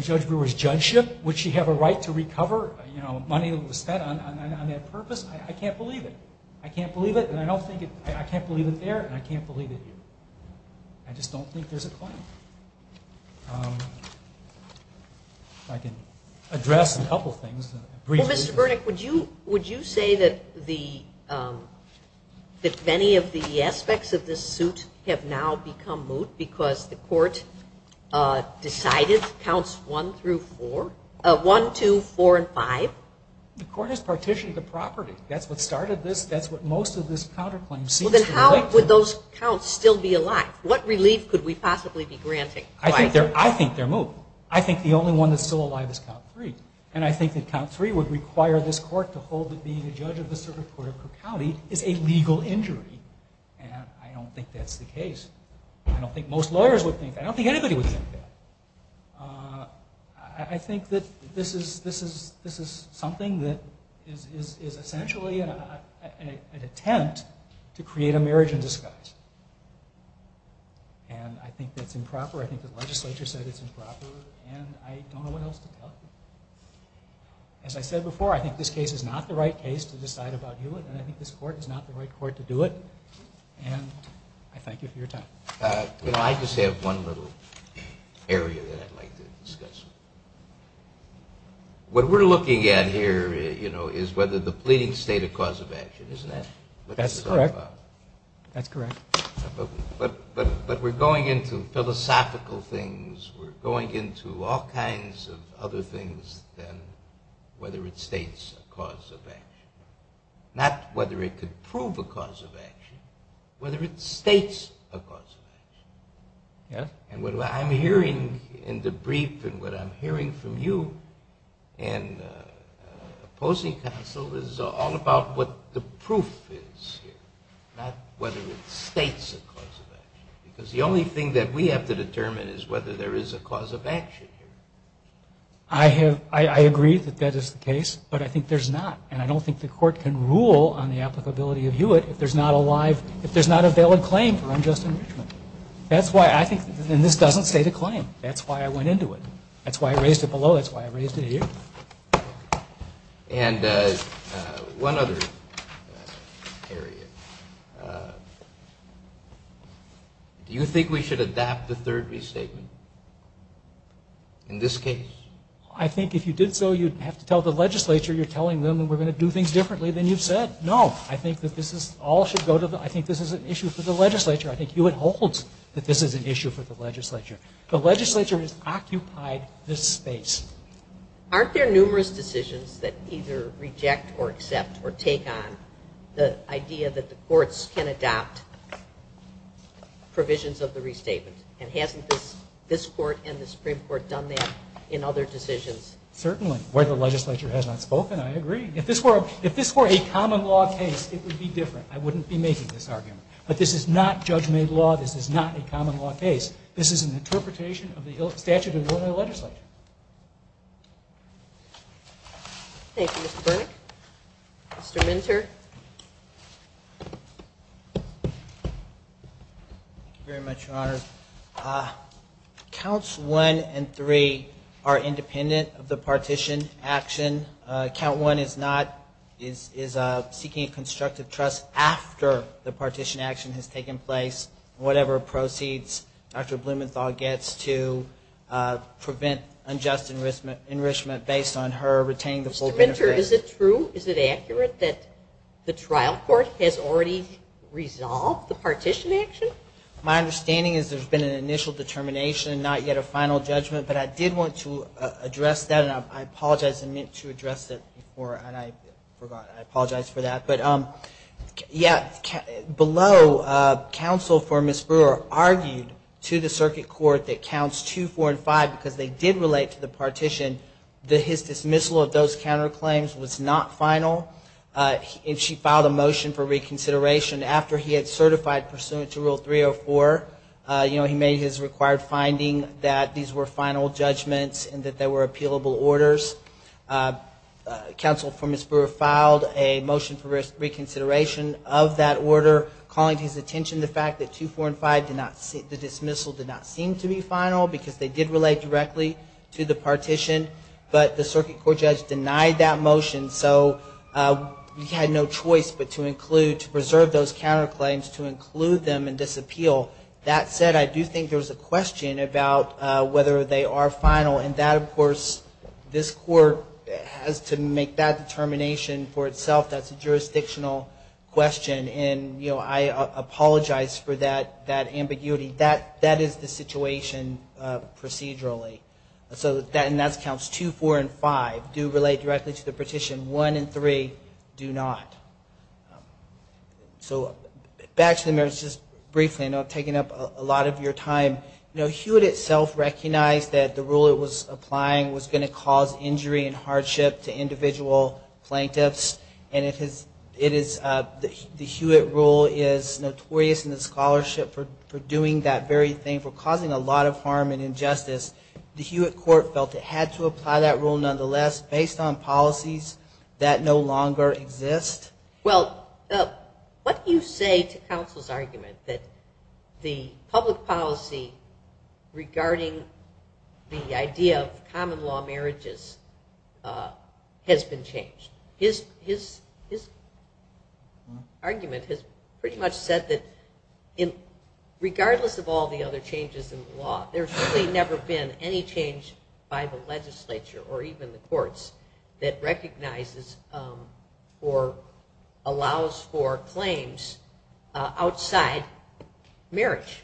judgeship? Would she have a right to recover money that was spent on that purpose? I can't believe it. I can't believe it and I don't think it, I can't believe it there and I can't believe it here. I just don't think there's a claim. If I can address a couple of things. Well, Mr. Burnick, would you say that many of the aspects of this suit have now become moot because the court decided counts one through four, one, two, four, and five? The court has partitioned the property. That's what started this. That's what most of this counterclaim seems to relate to. How would those counts still be alive? What relief could we possibly be granting? I think they're moot. I think the only one that's still alive is count three and I think that count three would require this court to hold that being a judge of the circuit court of Cook County is a legal injury and I don't think that's the case. I don't think most lawyers would think that. I don't think anybody would think that. I think that this is something that is essentially an attempt to create a marriage in disguise and I think that's improper. I think the legislature said it's improper and I don't know what else to tell you. As I said before, I think this case is not the right case to decide about Hewitt and I think this case is not the right case to decide about. I just have one little area that I'd like to discuss. What we're looking at here is whether the pleading state a cause of action. Isn't that what this is all about? That's correct. But we're going into philosophical things. We're going into all kinds of other things than whether it states a cause of action. Not whether it could prove a cause of action. And what I'm hearing in the brief and what I'm hearing from you in opposing counsel is all about what the proof is. Not whether it states a cause of action. Because the only thing that we have to determine is whether there is a cause of action. I agree that that is the case, but I think there's not. And I don't think the court can rule on the applicability of Hewitt if there's not a valid claim for unjust enrichment. And this doesn't state a claim. That's why I went into it. That's why I raised it below. That's why I raised it here. And one other area. Do you think we should adapt the third restatement in this case? I think if you did so, you'd have to tell the legislature you're telling them we're going to do things differently than you've said. No. I think this is an issue for the legislature. The legislature has occupied this space. Aren't there numerous decisions that either reject or accept or take on the idea that the courts can adopt provisions of the restatement? And hasn't this court and the Supreme Court done that in other decisions? Certainly. Where the legislature has not spoken, I agree. If this were a common law case, it would be different. I wouldn't be making this up. This is not a common law case. This is an interpretation of the statute of the legislature. Thank you, Mr. Burnick. Mr. Minter. Very much, Your Honor. Counts 1 and 3 are independent of the partition action. Count 1 is seeking a constructive trust after the partition action. Whatever proceeds Dr. Blumenthal gets to prevent unjust enrichment based on her retaining the full benefit. Mr. Minter, is it true? Is it accurate that the trial court has already resolved the partition action? My understanding is there's been an initial determination, not yet a final judgment. But I did want to address that. And I apologize. I meant to address that before and I forgot. I apologize for that. But yeah, below, counsel for Ms. Blumenthal, the counsel for Ms. Brewer argued to the circuit court that counts 2, 4, and 5, because they did relate to the partition, that his dismissal of those counterclaims was not final. And she filed a motion for reconsideration after he had certified pursuant to Rule 304. He made his required finding that these were final judgments and that they were appealable orders. Counsel for Ms. Brewer filed a motion for that. The dismissal did not seem to be final because they did relate directly to the partition. But the circuit court judge denied that motion. So he had no choice but to include, to preserve those counterclaims, to include them and disappeal. That said, I do think there's a question about whether they are final. And that, of course, this court has to make that determination for itself. That's a question about ambiguity. That is the situation procedurally. So that counts 2, 4, and 5 do relate directly to the partition. 1 and 3 do not. So back to the merits, just briefly, I know I've taken up a lot of your time. You know, Hewitt itself recognized that the rule it was applying was going to cause injury and hardship to individual plaintiffs. And it is, the Hewitt rule is notorious in the scholarship for doing that very thing, for causing a lot of harm and injustice. The Hewitt court felt it had to apply that rule nonetheless based on policies that no longer exist. Well, what do you say to counsel's argument that the public policy regarding the idea of common law marriages has been wrong? Regardless of all the other changes in the law, there's really never been any change by the legislature or even the courts that recognizes or allows for claims outside marriage.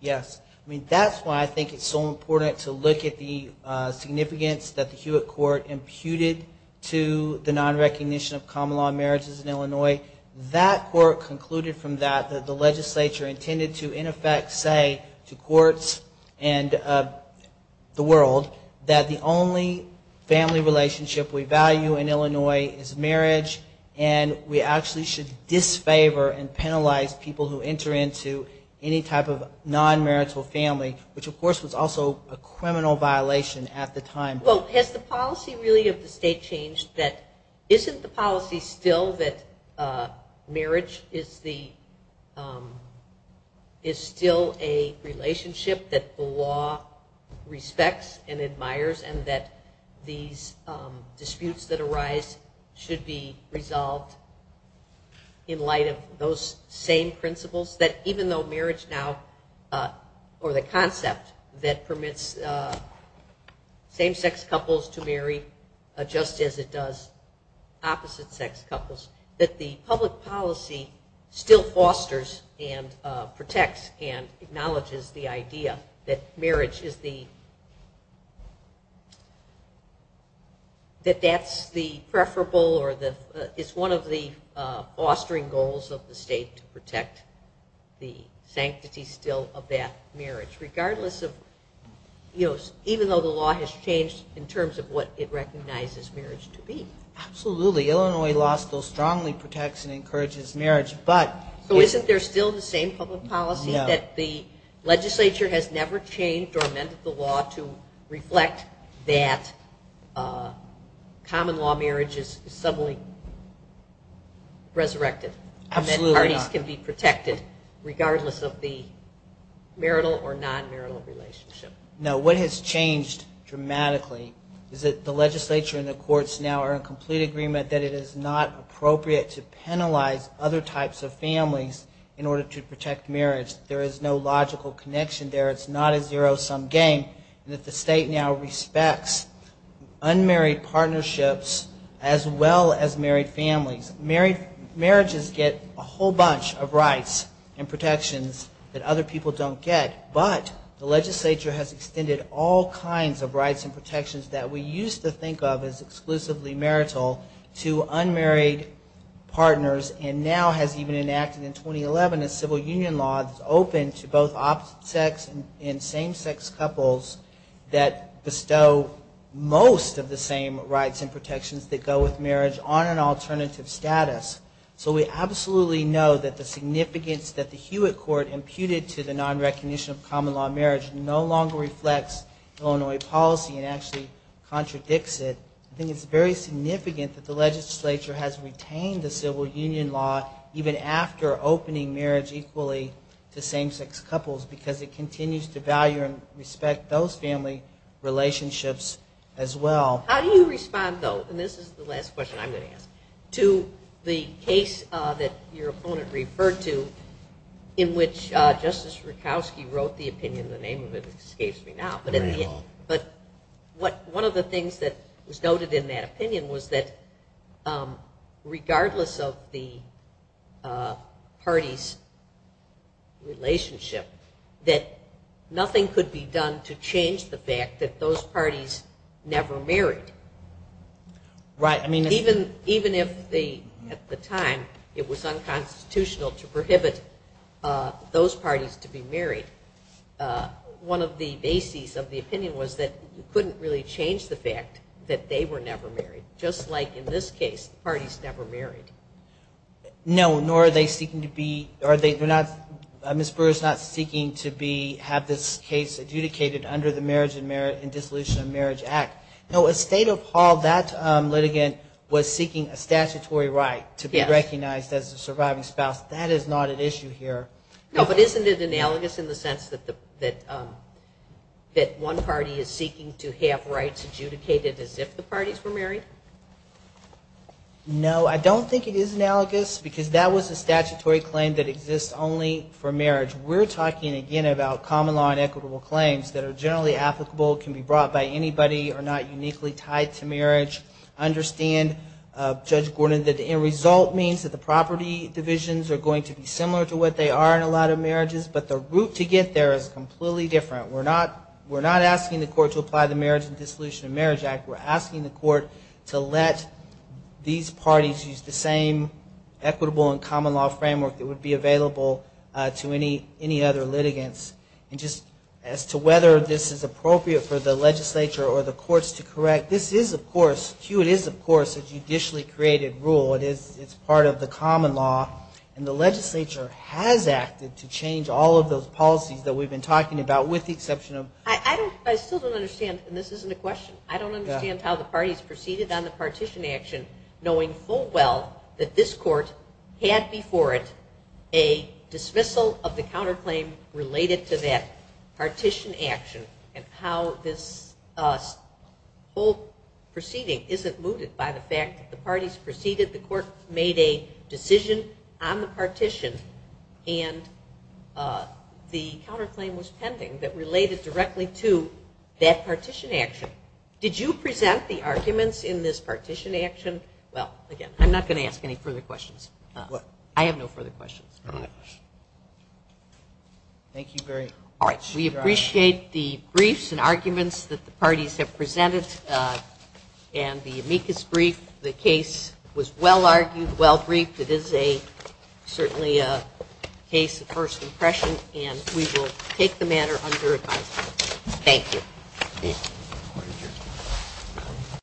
Yes. I mean, that's why I think it's so important to look at the significance that the Hewitt court imputed to the nonrecognition of common law marriages in Illinois. That court concluded from that that the legislature intended to, in effect, say to courts and the world that the only family relationship we value in Illinois is marriage and we actually should disfavor and penalize people who enter into any type of nonmarital family, which of course was also a criminal violation at the time. Well, has the policy really of the state changed that isn't the policy still that marriage is the, you know, the only way that marriage is still a relationship that the law respects and admires and that these disputes that arise should be resolved in light of those same principles that even though marriage now, or the concept that permits same-sex couples to marry just as it does opposite-sex couples, that the state still protects and acknowledges the idea that marriage is the, that that's the preferable or the, it's one of the fostering goals of the state to protect the sanctity still of that marriage, regardless of, you know, even though the law has changed in terms of what it recognizes marriage to be. Absolutely. Illinois law still strongly protects and encourages marriage, but... So isn't there still the same public policy that the legislature has never changed or amended the law to reflect that common law marriage is suddenly resurrected and that parties can be protected regardless of the marital or nonmarital relationship? No. What has changed dramatically is that the legislature and the courts now are in complete agreement that it is not appropriate to penalize other types of families in order to protect marital and nonmarital relationships. It's not a zero-sum game. The state now respects unmarried partnerships as well as married families. Marriages get a whole bunch of rights and protections that other people don't get, but the legislature has extended all kinds of rights and protections that we used to think of as exclusively marital to unmarried partners and now has even enacted in 2011 a civil union law that is open to both opposite-sex and same-sex couples that bestow most of the same rights and protections that go with marriage on an alternative status. So we absolutely know that the significance that the Hewitt Court imputed to the nonrecognition of common law marriage no longer reflects Illinois policy and actually contradicts it. I think it's very significant that the legislature has retained the right to marry equally to same-sex couples because it continues to value and respect those family relationships as well. How do you respond, though, and this is the last question I'm going to ask, to the case that your opponent referred to in which Justice Rutkowski wrote the opinion, the name of it escapes me now, but one of the things that was noted in that opinion was that regardless of the parties' relationship, that nothing could be done to change the fact that those parties never married. Even if at the time it was unconstitutional to prohibit those parties to be married, one of the bases of the opinion was that you couldn't really change the fact that they were never married, just like in this case, the parties never married. No, nor are they seeking to be, Ms. Brewer is not seeking to be, have this case adjudicated under the Marriage and Dissolution of Marriage Act. No, at State of Hall that litigant was seeking a statutory right to be recognized as a surviving spouse. That is not an issue here. No, but isn't it analogous in the sense that one party is seeking to have rights adjudicated as if the parties were married? No, I don't think it is analogous because that was a statutory claim that exists only for marriage. We're talking, again, about common law and equitable claims that are generally applicable, can be brought by anybody, are not uniquely tied to marriage. I understand, Judge Gordon, that the end result means that the parties are in a lot of marriages, but the route to get there is completely different. We're not asking the court to apply the Marriage and Dissolution of Marriage Act. We're asking the court to let these parties use the same equitable and common law framework that would be available to any other litigants. And just as to whether this is appropriate for the legislature or the courts to correct, this is, of course, Q, it is, of course, a matter of the common law, and the legislature has acted to change all of those policies that we've been talking about with the exception of... I still don't understand, and this isn't a question, I don't understand how the parties proceeded on the partition action knowing full well that this court had before it a dismissal of the counterclaim related to that partition action and how this full proceeding isn't mooted by the parties. The court made a decision on the partition, and the counterclaim was pending that related directly to that partition action. Did you present the arguments in this partition action? Well, again, I'm not going to ask any further questions. I have no further questions. All right. Thank you very much. All right. We appreciate the briefs and arguments that the parties have presented, and the amicus brief, the case was well-argued, well-briefed. It is certainly a case of first impression, and we will take the matter under advisement. Thank you.